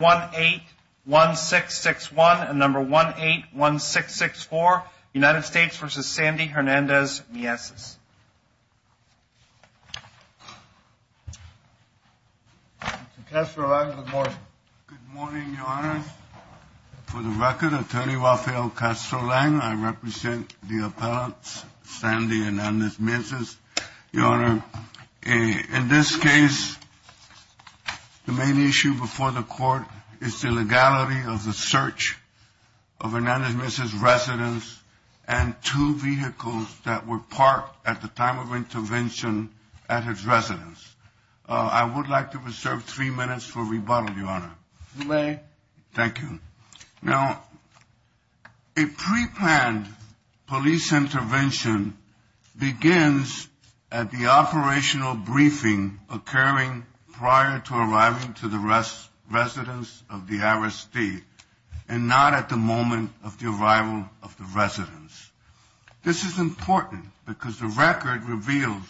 1-816-61 and number 1-816-64, United States v. Sandy Hernandez-Mieses. Mr. Kastro-Lang, good morning. Good morning, Your Honor. For the record, Attorney Rafael Kastro-Lang, I represent the appellants Sandy Hernandez-Mieses. Your Honor, in this case, the main issue before the court is the legality of the search of Hernandez-Mieses' residence and two vehicles that were parked at the time of intervention at his residence. I would like to reserve three minutes for rebuttal, Your Honor. You may. Thank you. Now, a preplanned police intervention begins at the operational briefing occurring prior to arriving to the residence of the arrestee and not at the moment of the arrival of the residence. This is important because the record reveals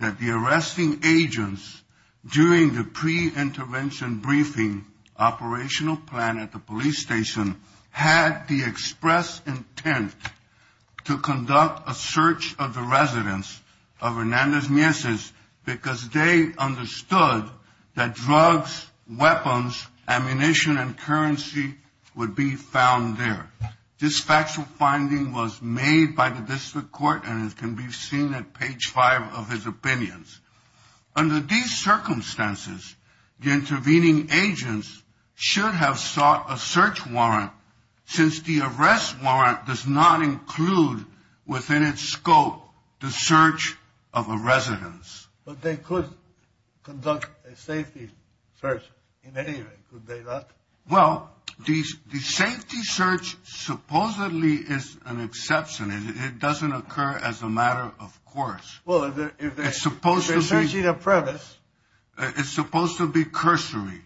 that the arresting agents during the preintervention briefing operational plan at the police station had the express intent to conduct a search of the residence of Hernandez-Mieses because they understood that drugs, weapons, ammunition, and currency would be found there. This factual finding was made by the district court and can be seen at page 5 of his opinions. Under these circumstances, the intervening agents should have sought a search warrant since the arrest warrant does not include within its scope the search of a residence. But they could conduct a safety search in any way, could they not? Well, the safety search supposedly is an exception. It doesn't occur as a matter of course. Well, if they're searching a premise. It's supposed to be cursory.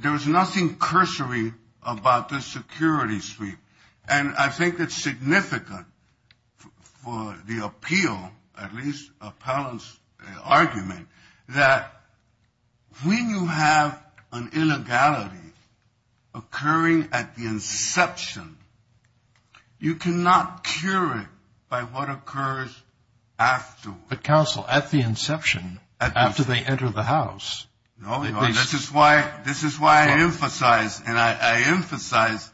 There is nothing cursory about this security sweep. And I think it's significant for the appeal, at least Appellant's argument, that when you have an illegality occurring at the inception, you cannot cure it by what occurs afterwards. But, counsel, at the inception, after they enter the house. No, this is why I emphasize, and I emphasize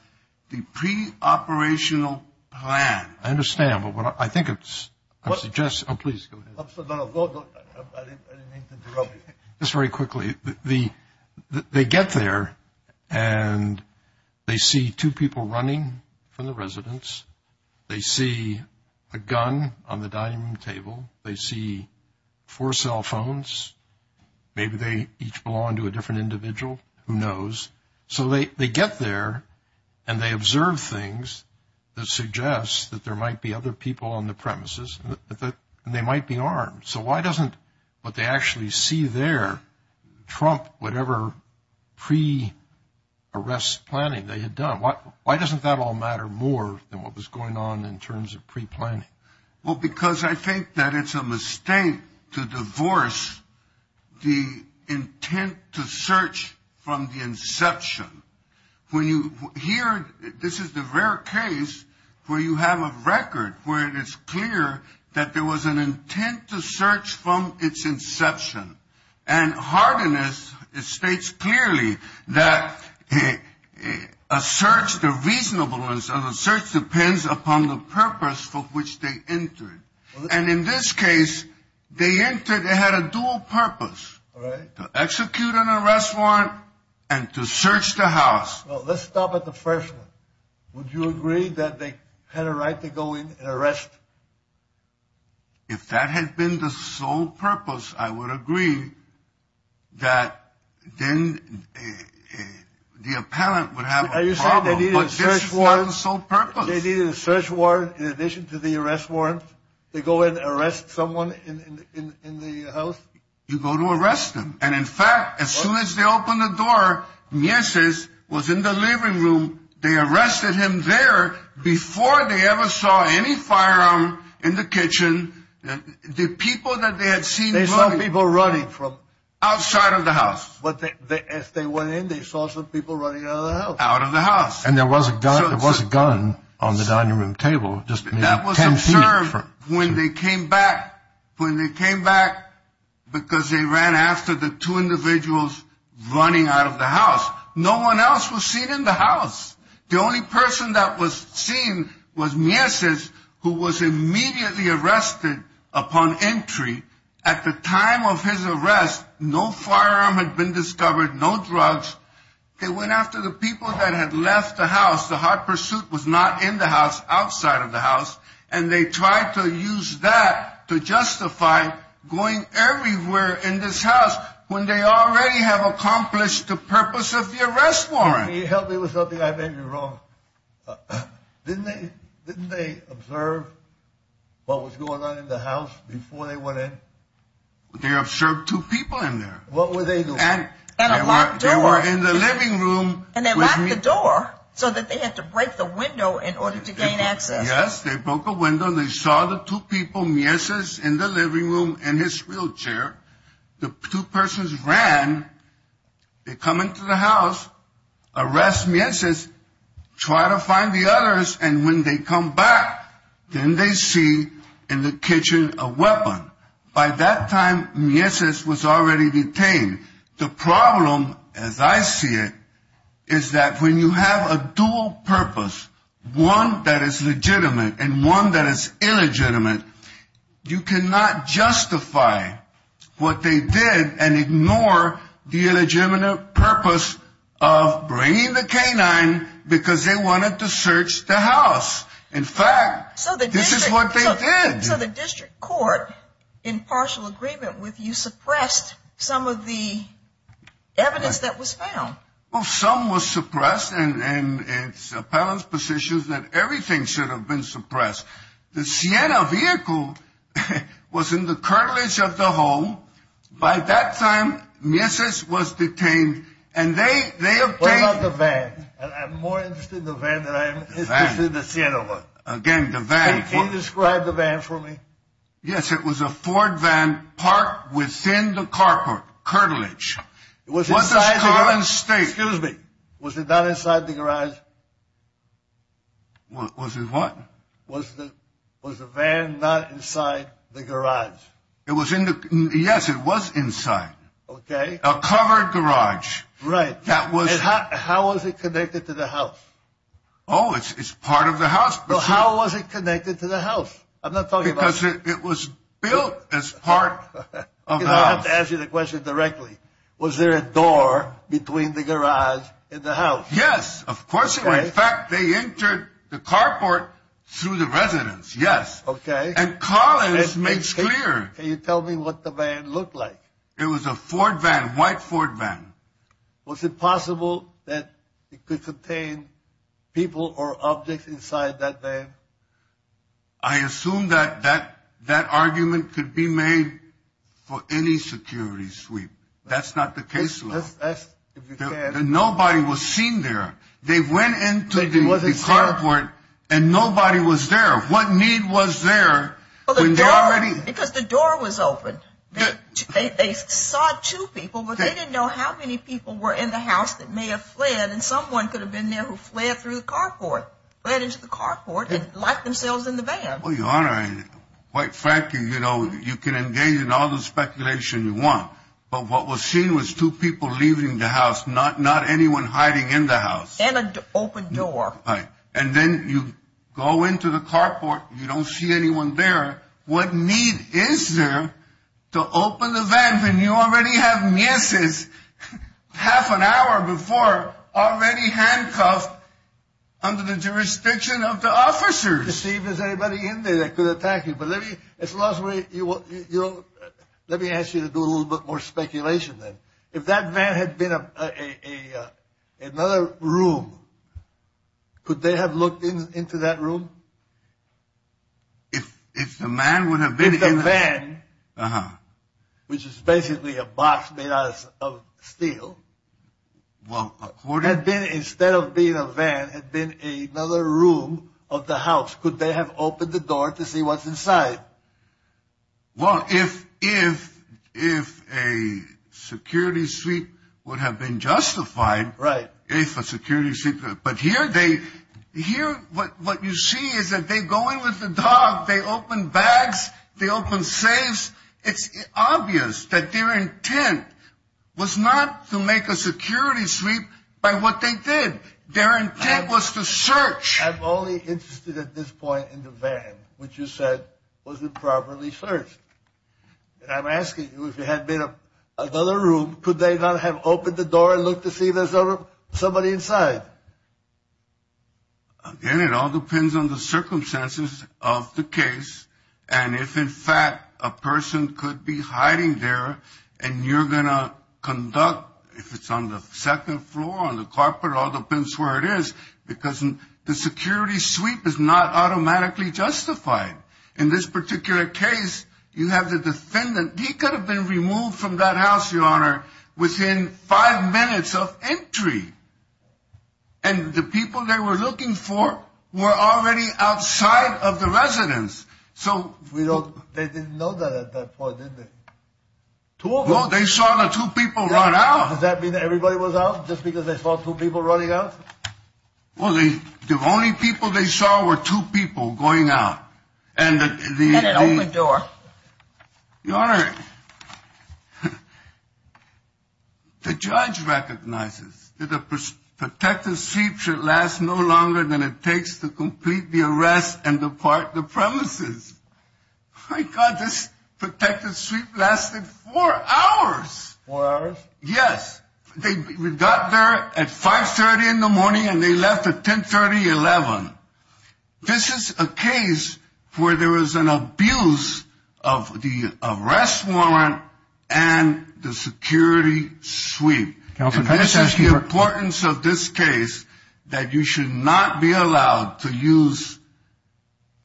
the preoperational plan. I understand, but I think it's, I suggest, oh, please go ahead. No, no, I didn't mean to interrupt you. Just very quickly, they get there and they see two people running from the residence. They see a gun on the dining room table. They see four cell phones. Maybe they each belong to a different individual. Who knows? So they get there and they observe things that suggest that there might be other people on the premises and they might be armed. So why doesn't what they actually see there trump whatever pre-arrest planning they had done? Why doesn't that all matter more than what was going on in terms of preplanning? Well, because I think that it's a mistake to divorce the intent to search from the inception. When you hear, this is the rare case where you have a record where it is clear that there was an intent to search from its inception. And Hardiness states clearly that a search, the reasonableness of a search depends upon the purpose for which they entered. And in this case, they entered, they had a dual purpose. To execute an arrest warrant and to search the house. Let's stop at the first one. Would you agree that they had a right to go in and arrest? If that had been the sole purpose, I would agree that then the appellant would have a problem. But this is not the sole purpose. They needed a search warrant in addition to the arrest warrant? They go in and arrest someone in the house? You go to arrest them. And in fact, as soon as they opened the door, Mieses was in the living room. They arrested him there before they ever saw any firearm in the kitchen. The people that they had seen running. They saw people running from? Outside of the house. As they went in, they saw some people running out of the house. Out of the house. And there was a gun on the dining room table. That was observed when they came back. When they came back, because they ran after the two individuals running out of the house. No one else was seen in the house. The only person that was seen was Mieses, who was immediately arrested upon entry. At the time of his arrest, no firearm had been discovered, no drugs. They went after the people that had left the house. The hot pursuit was not in the house, outside of the house. And they tried to use that to justify going everywhere in this house. When they already have accomplished the purpose of the arrest warrant. Help me with something, I may be wrong. Didn't they observe what was going on in the house before they went in? They observed two people in there. What were they doing? They were in the living room. And they locked the door so that they had to break the window in order to gain access. Yes, they broke a window and they saw the two people, Mieses in the living room in his wheelchair. The two persons ran. They come into the house, arrest Mieses, try to find the others. And when they come back, then they see in the kitchen a weapon. By that time, Mieses was already detained. The problem, as I see it, is that when you have a dual purpose, one that is legitimate and one that is illegitimate, you cannot justify what they did and ignore the illegitimate purpose of bringing the canine because they wanted to search the house. In fact, this is what they did. So the district court, in partial agreement with you, suppressed some of the evidence that was found. Well, some was suppressed. And it's appellant's position is that everything should have been suppressed. The Siena vehicle was in the cartilage of the home. By that time, Mieses was detained. What about the van? I'm more interested in the van than I am in the Siena one. Again, the van. Can you describe the van for me? Yes, it was a Ford van parked within the cartilage. It was inside the garage? Excuse me. Was it not inside the garage? Was it what? Was the van not inside the garage? Yes, it was inside. Okay. A covered garage. Right. How was it connected to the house? Oh, it's part of the house. So how was it connected to the house? I'm not talking about... Because it was built as part of the house. I have to ask you the question directly. Was there a door between the garage and the house? Yes, of course there was. In fact, they entered the carport through the residence, yes. Okay. And Collins makes clear... Can you tell me what the van looked like? It was a Ford van, white Ford van. Was it possible that it could contain people or objects inside that van? I assume that that argument could be made for any security sweep. That's not the case. Nobody was seen there. They went into the carport and nobody was there. What need was there when they already... Because the door was open. They saw two people, but they didn't know how many people were in the house that may have fled, and someone could have been there who fled through the carport, fled into the carport and locked themselves in the van. Well, Your Honor, quite frankly, you know, you can engage in all the speculation you want, but what was seen was two people leaving the house, not anyone hiding in the house. And an open door. Right. And then you go into the carport, you don't see anyone there. What need is there to open the van when you already have Mrs. half an hour before already handcuffed under the jurisdiction of the officers? See if there's anybody in there that could attack you. But let me ask you to do a little bit more speculation then. If that van had been another room, could they have looked into that room? If the man would have been... If the van, which is basically a box made out of steel, had been, instead of being a van, had been another room of the house, could they have opened the door to see what's inside? Well, if a security sweep would have been justified. Right. But here what you see is that they go in with the dog, they open bags, they open safes. It's obvious that their intent was not to make a security sweep by what they did. Their intent was to search. I'm only interested at this point in the van, which you said wasn't properly searched. And I'm asking you, if it had been another room, could they not have opened the door and looked to see if there's somebody inside? Again, it all depends on the circumstances of the case. And if, in fact, a person could be hiding there and you're going to conduct, if it's on the second floor, on the carpet, it all depends where it is, because the security sweep is not automatically justified. In this particular case, you have the defendant. He could have been removed from that house, Your Honor, within five minutes of entry. And the people they were looking for were already outside of the residence. They didn't know that at that point, did they? Well, they saw the two people run out. Does that mean that everybody was out just because they saw two people running out? Well, the only people they saw were two people going out. And an open door. Your Honor, the judge recognizes that a protective sweep should last no longer than it takes to complete the arrest and depart the premises. My God, this protective sweep lasted four hours. Four hours? Yes. They got there at 5.30 in the morning and they left at 10.30, 11. This is a case where there was an abuse of the arrest warrant and the security sweep. And this is the importance of this case, that you should not be allowed to use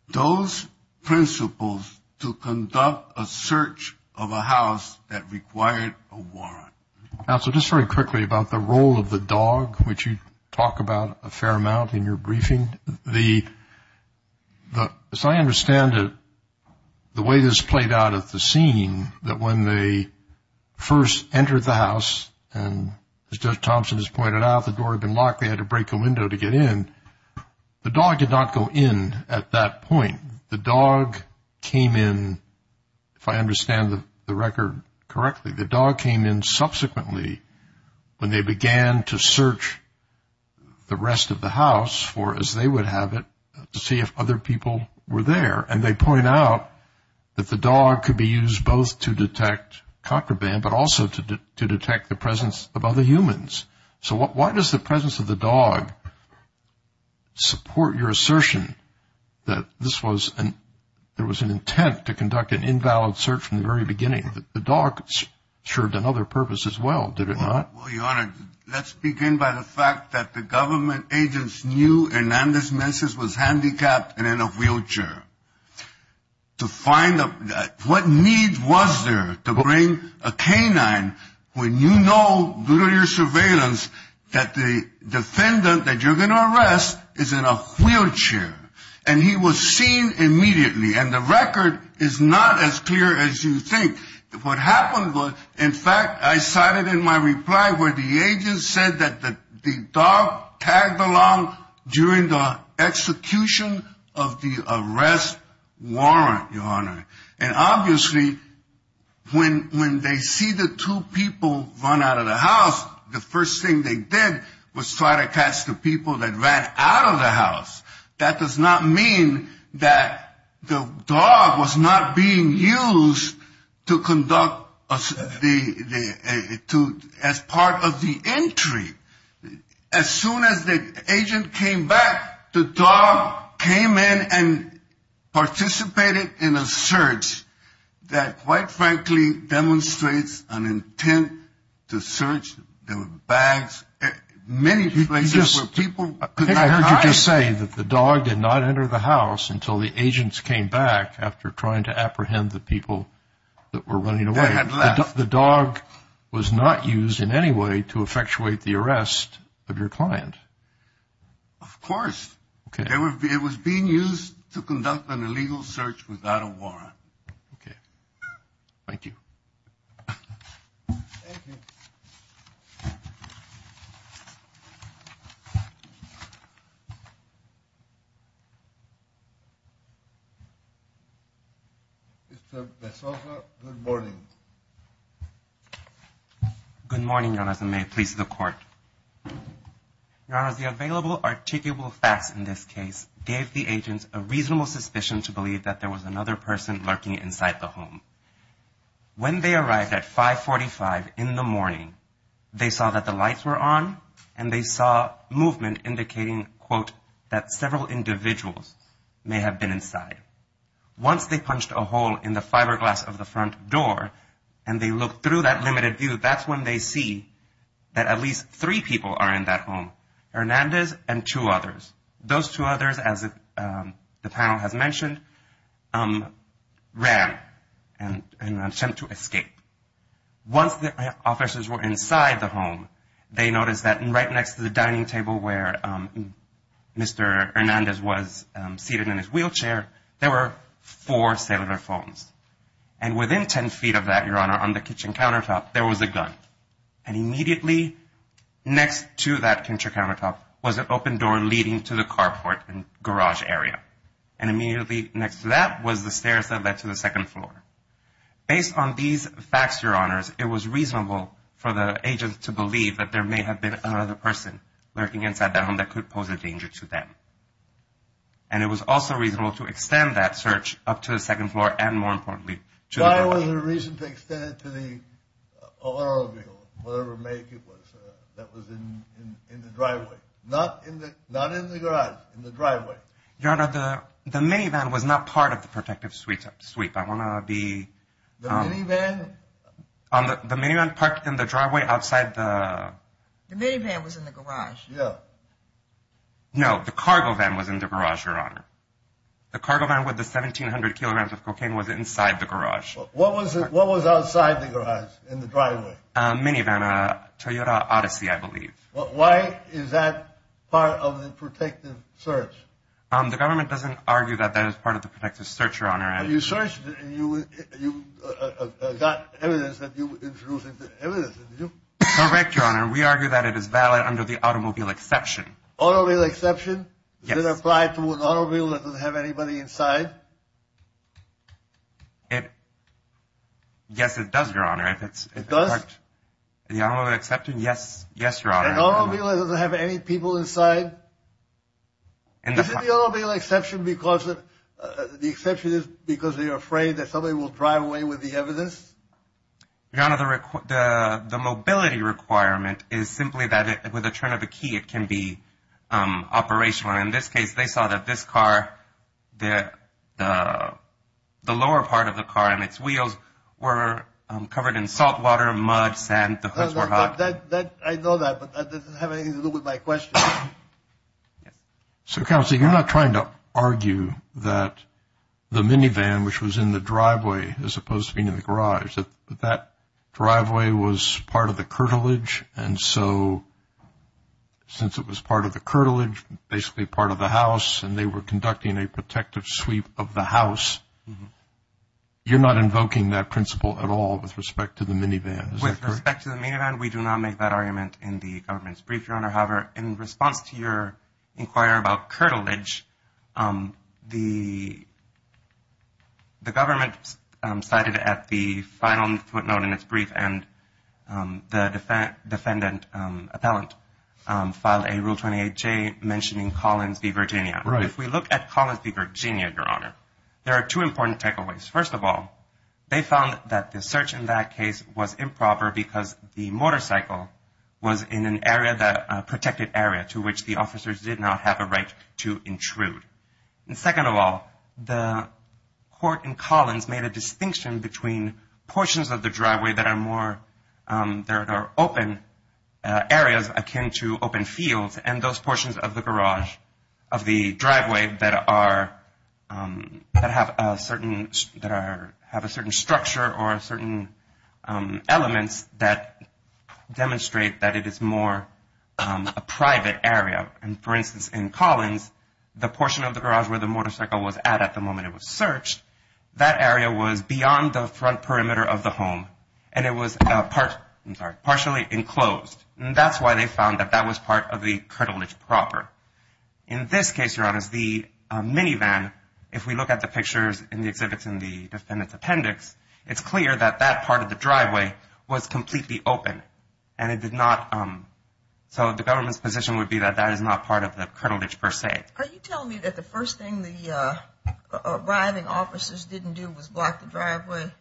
those principles to conduct a search of a house that required a warrant. Counsel, just very quickly about the role of the dog, which you talk about a fair amount in your briefing. As I understand it, the way this played out at the scene, that when they first entered the house, and as Judge Thompson has pointed out, the door had been locked. They had to break a window to get in. The dog did not go in at that point. The dog came in, if I understand the record correctly, the dog came in subsequently when they began to search the rest of the house for, as they would have it, to see if other people were there. And they point out that the dog could be used both to detect contraband, but also to detect the presence of other humans. So why does the presence of the dog support your assertion that this was an – there was an intent to conduct an invalid search from the very beginning? The dog served another purpose as well, did it not? Well, Your Honor, let's begin by the fact that the government agents knew Hernandez-Messis was handicapped and in a wheelchair. To find – what need was there to bring a canine when you know, due to your surveillance, that the defendant that you're going to arrest is in a wheelchair? And he was seen immediately. And the record is not as clear as you think. What happened was, in fact, I cited in my reply where the agent said that the dog tagged along during the execution of the arrest warrant, Your Honor. And obviously when they see the two people run out of the house, the first thing they did was try to catch the people that ran out of the house. That does not mean that the dog was not being used to conduct the – as part of the entry. As soon as the agent came back, the dog came in and participated in a search that, quite frankly, demonstrates an intent to search the bags. Many places where people – I heard you just say that the dog did not enter the house until the agents came back after trying to apprehend the people that were running away. They had left. The dog was not used in any way to effectuate the arrest of your client. Of course. Okay. It was being used to conduct an illegal search without a warrant. Okay. Thank you. Thank you. Mr. De Soto, good morning. May it please the Court. Your Honor, the available articulable facts in this case gave the agents a reasonable suspicion to believe that there was another person lurking inside the home. When they arrived at 545 in the morning, they saw that the lights were on and they saw movement indicating, quote, that several individuals may have been inside. Once they punched a hole in the fiberglass of the front door and they looked through that limited view, that's when they see that at least three people are in that home, Hernandez and two others. Those two others, as the panel has mentioned, ran in an attempt to escape. Once the officers were inside the home, they noticed that right next to the dining table where Mr. Hernandez was seated in his wheelchair, there were four cellular phones. And within 10 feet of that, Your Honor, on the kitchen countertop, there was a gun. And immediately next to that kitchen countertop was an open door leading to the carport and garage area. And immediately next to that was the stairs that led to the second floor. Based on these facts, Your Honors, it was reasonable for the agents to believe that there may have been another person lurking inside that home that could pose a danger to them. And it was also reasonable to extend that search up to the second floor and, more importantly, to the garage. Why was there a reason to extend it to the automobile, whatever make it was, that was in the driveway? Not in the garage, in the driveway. Your Honor, the minivan was not part of the protective sweep. I want to be… The minivan? The minivan parked in the driveway outside the… The minivan was in the garage. Yeah. No, the cargo van was in the garage, Your Honor. The cargo van with the 1,700 kilograms of cocaine was inside the garage. What was outside the garage in the driveway? A minivan, a Toyota Odyssey, I believe. Why is that part of the protective search? The government doesn't argue that that is part of the protective search, Your Honor. You searched and you got evidence that you were introducing evidence, did you? Correct, Your Honor. We argue that it is valid under the automobile exception. Automobile exception? Yes. Does it apply to an automobile that doesn't have anybody inside? It… Yes, it does, Your Honor. It does? The automobile exception, yes. Yes, Your Honor. An automobile that doesn't have any people inside? Is it the automobile exception because the exception is because they are afraid that somebody will drive away with the evidence? Your Honor, the mobility requirement is simply that with a turn of the key it can be operational. In this case, they saw that this car, the lower part of the car and its wheels were covered in salt water, mud, sand. The hoods were hot. I know that, but that doesn't have anything to do with my question. So, Counsel, you're not trying to argue that the minivan, which was in the driveway as opposed to being in the garage, that that driveway was part of the curtilage, and so since it was part of the curtilage, basically part of the house, and they were conducting a protective sweep of the house, you're not invoking that principle at all with respect to the minivan? With respect to the minivan, we do not make that argument in the government's brief, Your Honor. However, in response to your inquiry about curtilage, the government cited at the final footnote in its brief, and the defendant appellant filed a Rule 28J mentioning Collins v. Virginia. Right. If we look at Collins v. Virginia, Your Honor, there are two important takeaways. First of all, they found that the search in that case was improper because the motorcycle was in an area, a protected area to which the officers did not have a right to intrude. And second of all, the court in Collins made a distinction between portions of the driveway that are more, that are open areas akin to open fields, and those portions of the garage, of the driveway, that have a certain structure or certain elements that demonstrate that it is more a private area. And for instance, in Collins, the portion of the garage where the motorcycle was at the moment it was searched, that area was beyond the front perimeter of the home, and it was partially enclosed. And that's why they found that that was part of the curtilage proper. In this case, Your Honor, the minivan, if we look at the pictures in the exhibits in the defendant's appendix, it's clear that that part of the driveway was completely open, and it did not, so the government's position would be that that is not part of the curtilage per se. Are you telling me that the first thing the arriving officers didn't do was block the driveway?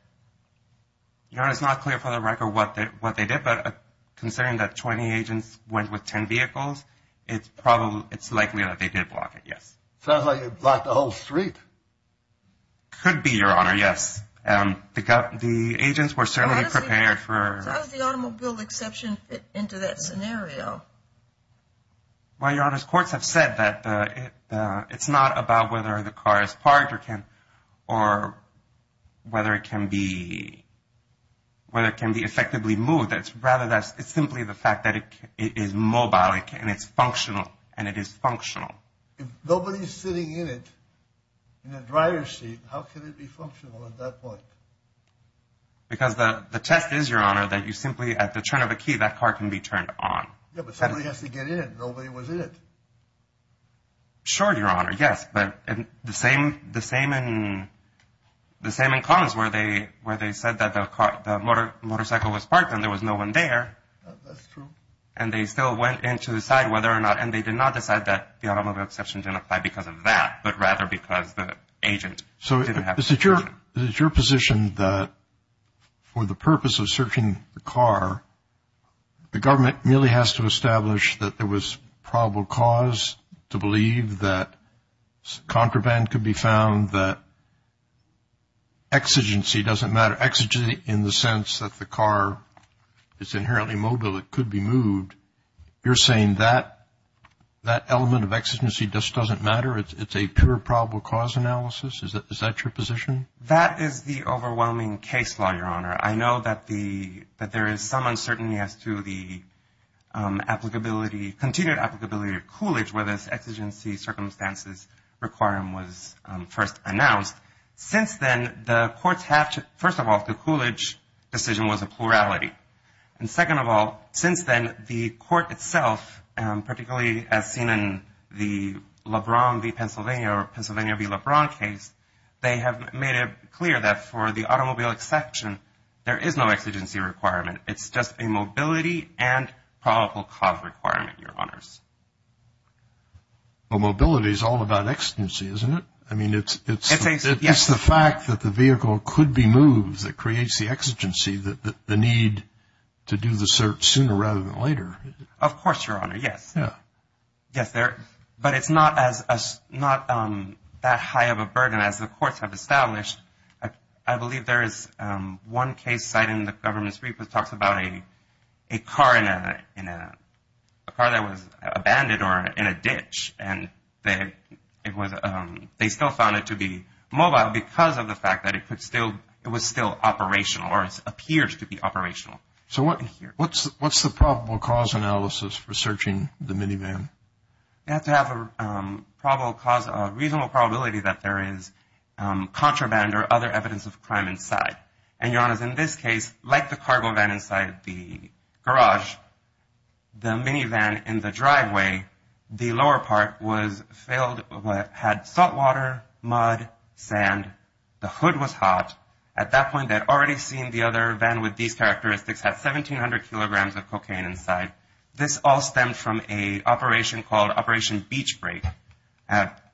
Your Honor, it's not clear for the record what they did, but considering that 20 agents went with 10 vehicles, it's likely that they did block it, yes. Sounds like they blocked the whole street. Could be, Your Honor, yes. The agents were certainly prepared for... So how does the automobile exception fit into that scenario? Well, Your Honor, courts have said that it's not about whether the car is parked or whether it can be effectively moved. It's simply the fact that it is mobile and it's functional, and it is functional. If nobody's sitting in it, in the driver's seat, how can it be functional at that point? Because the test is, Your Honor, that you simply, at the turn of a key, that car can be turned on. Yeah, but somebody has to get in it. Nobody was in it. Sure, Your Honor, yes, but the same in Commons, where they said that the motorcycle was parked and there was no one there. That's true. And they still went in to decide whether or not, and they did not decide that the automobile exception didn't apply because of that, but rather because the agent didn't have permission. Is it your position that for the purpose of searching the car, the government merely has to establish that there was probable cause to believe that contraband could be found, that exigency doesn't matter? Exigency in the sense that the car is inherently mobile, it could be moved. You're saying that that element of exigency just doesn't matter? It's a pure probable cause analysis? Is that your position? That is the overwhelming case law, Your Honor. I know that there is some uncertainty as to the applicability, continued applicability of Coolidge, where this exigency circumstances requirement was first announced. Since then, the courts have to, first of all, the Coolidge decision was a plurality. And second of all, since then, the court itself, particularly as seen in the LeBron v. Pennsylvania or Pennsylvania v. LeBron case, they have made it clear that for the automobile exception, there is no exigency requirement. It's just a mobility and probable cause requirement, Your Honors. Well, mobility is all about exigency, isn't it? I mean, it's the fact that the vehicle could be moved that creates the exigency, the need to do the search sooner rather than later. Of course, Your Honor, yes. But it's not that high of a burden as the courts have established. I believe there is one case cited in the government's report that talks about a car that was abandoned or in a ditch, and they still found it to be mobile because of the fact that it was still operational or it appears to be operational. So what's the probable cause analysis for searching the minivan? You have to have a reasonable probability that there is contraband or other evidence of crime inside. And, Your Honors, in this case, like the cargo van inside the garage, the minivan in the driveway, the lower part was filled, had salt water, mud, sand, the hood was hot. At that point, they had already seen the other van with these characteristics, had 1,700 kilograms of cocaine inside. This all stemmed from an operation called Operation Beach Break,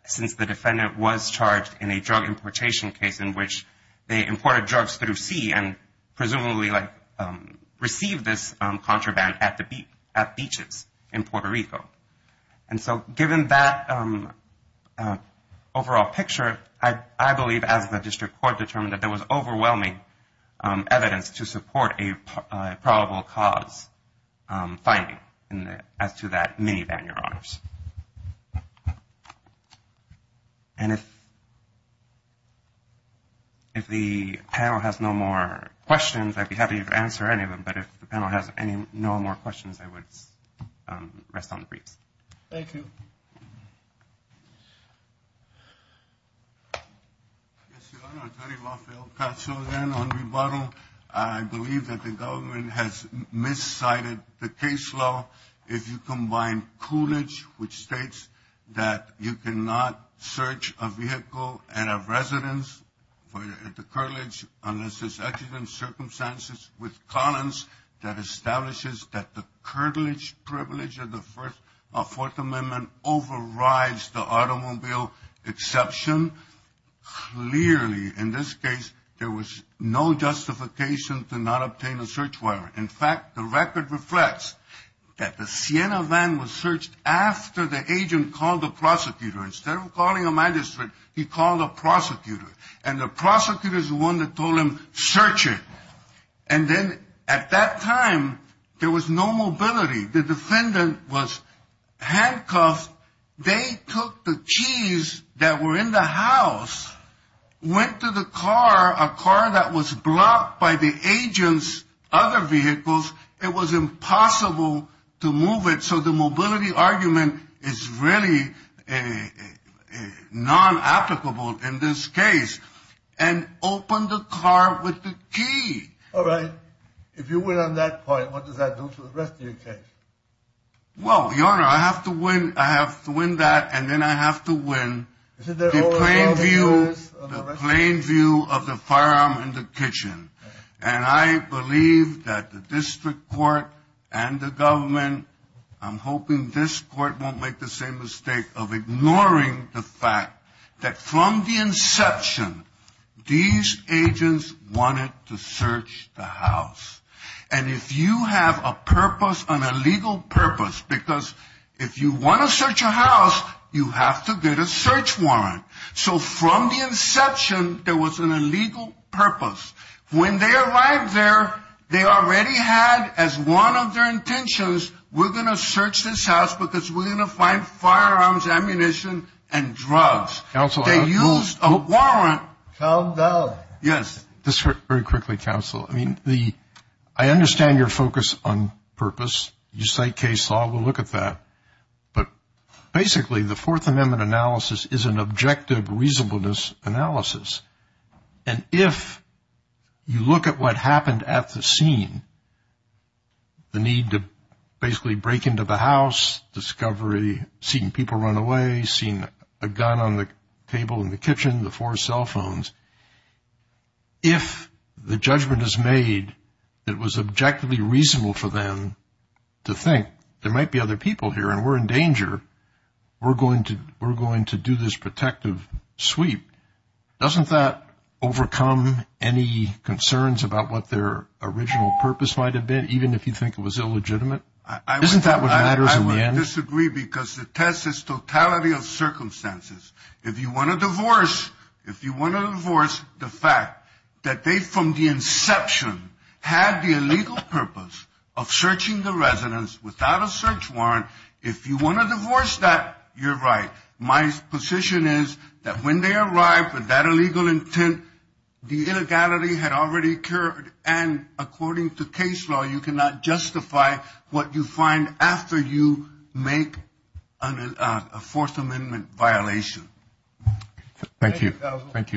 since the defendant was charged in a drug importation case in which they imported drugs through sea and presumably received this contraband at beaches in Puerto Rico. And so given that overall picture, I believe, as the district court determined, that there was overwhelming evidence to support a probable cause finding as to that minivan, Your Honors. And if the panel has no more questions, I'd be happy to answer any of them. But if the panel has no more questions, I would rest on the briefs. Thank you. Yes, Your Honor, Attorney Lafayette Pacho again on rebuttal. I believe that the government has miscited the case law. If you combine Coolidge, which states that you cannot search a vehicle and a residence at the Coolidge unless there's accident circumstances with Collins, that establishes that the curtilage privilege of the Fourth Amendment overrides the automobile exception, clearly in this case there was no justification to not obtain a search warrant. In fact, the record reflects that the Siena van was searched after the agent called the prosecutor. Instead of calling a magistrate, he called a prosecutor. And the prosecutor is the one that told him, search it. And then at that time, there was no mobility. The defendant was handcuffed. They took the keys that were in the house, went to the car, a car that was blocked by the agent's other vehicles. It was impossible to move it. So the mobility argument is really non-applicable in this case. And open the car with the key. All right. If you win on that point, what does that do to the rest of your case? Well, Your Honor, I have to win that, and then I have to win the plain view of the firearm in the kitchen. And I believe that the district court and the government, I'm hoping this court won't make the same mistake of ignoring the fact that from the inception, these agents wanted to search the house. And if you have a purpose, an illegal purpose, because if you want to search a house, you have to get a search warrant. So from the inception, there was an illegal purpose. When they arrived there, they already had as one of their intentions, we're going to search this house because we're going to find firearms, ammunition, and drugs. They used a warrant. Calm down. Yes. Just very quickly, counsel. I mean, I understand your focus on purpose. You cite case law. We'll look at that. But basically, the Fourth Amendment analysis is an objective reasonableness analysis. And if you look at what happened at the scene, the need to basically break into the house, discovery, seeing people run away, seeing a gun on the table in the kitchen, the four cell phones, if the judgment is made it was objectively reasonable for them to think there might be other people here and we're in danger, we're going to do this protective sweep. Doesn't that overcome any concerns about what their original purpose might have been, even if you think it was illegitimate? Isn't that what matters in the end? I would disagree because the test is totality of circumstances. If you want to divorce the fact that they, from the inception, had the illegal purpose of searching the residence without a search warrant, if you want to divorce that, you're right. My position is that when they arrived with that illegal intent, the illegality had already occurred, and according to case law, you cannot justify what you find after you make a Fourth Amendment violation. Thank you. Thank you.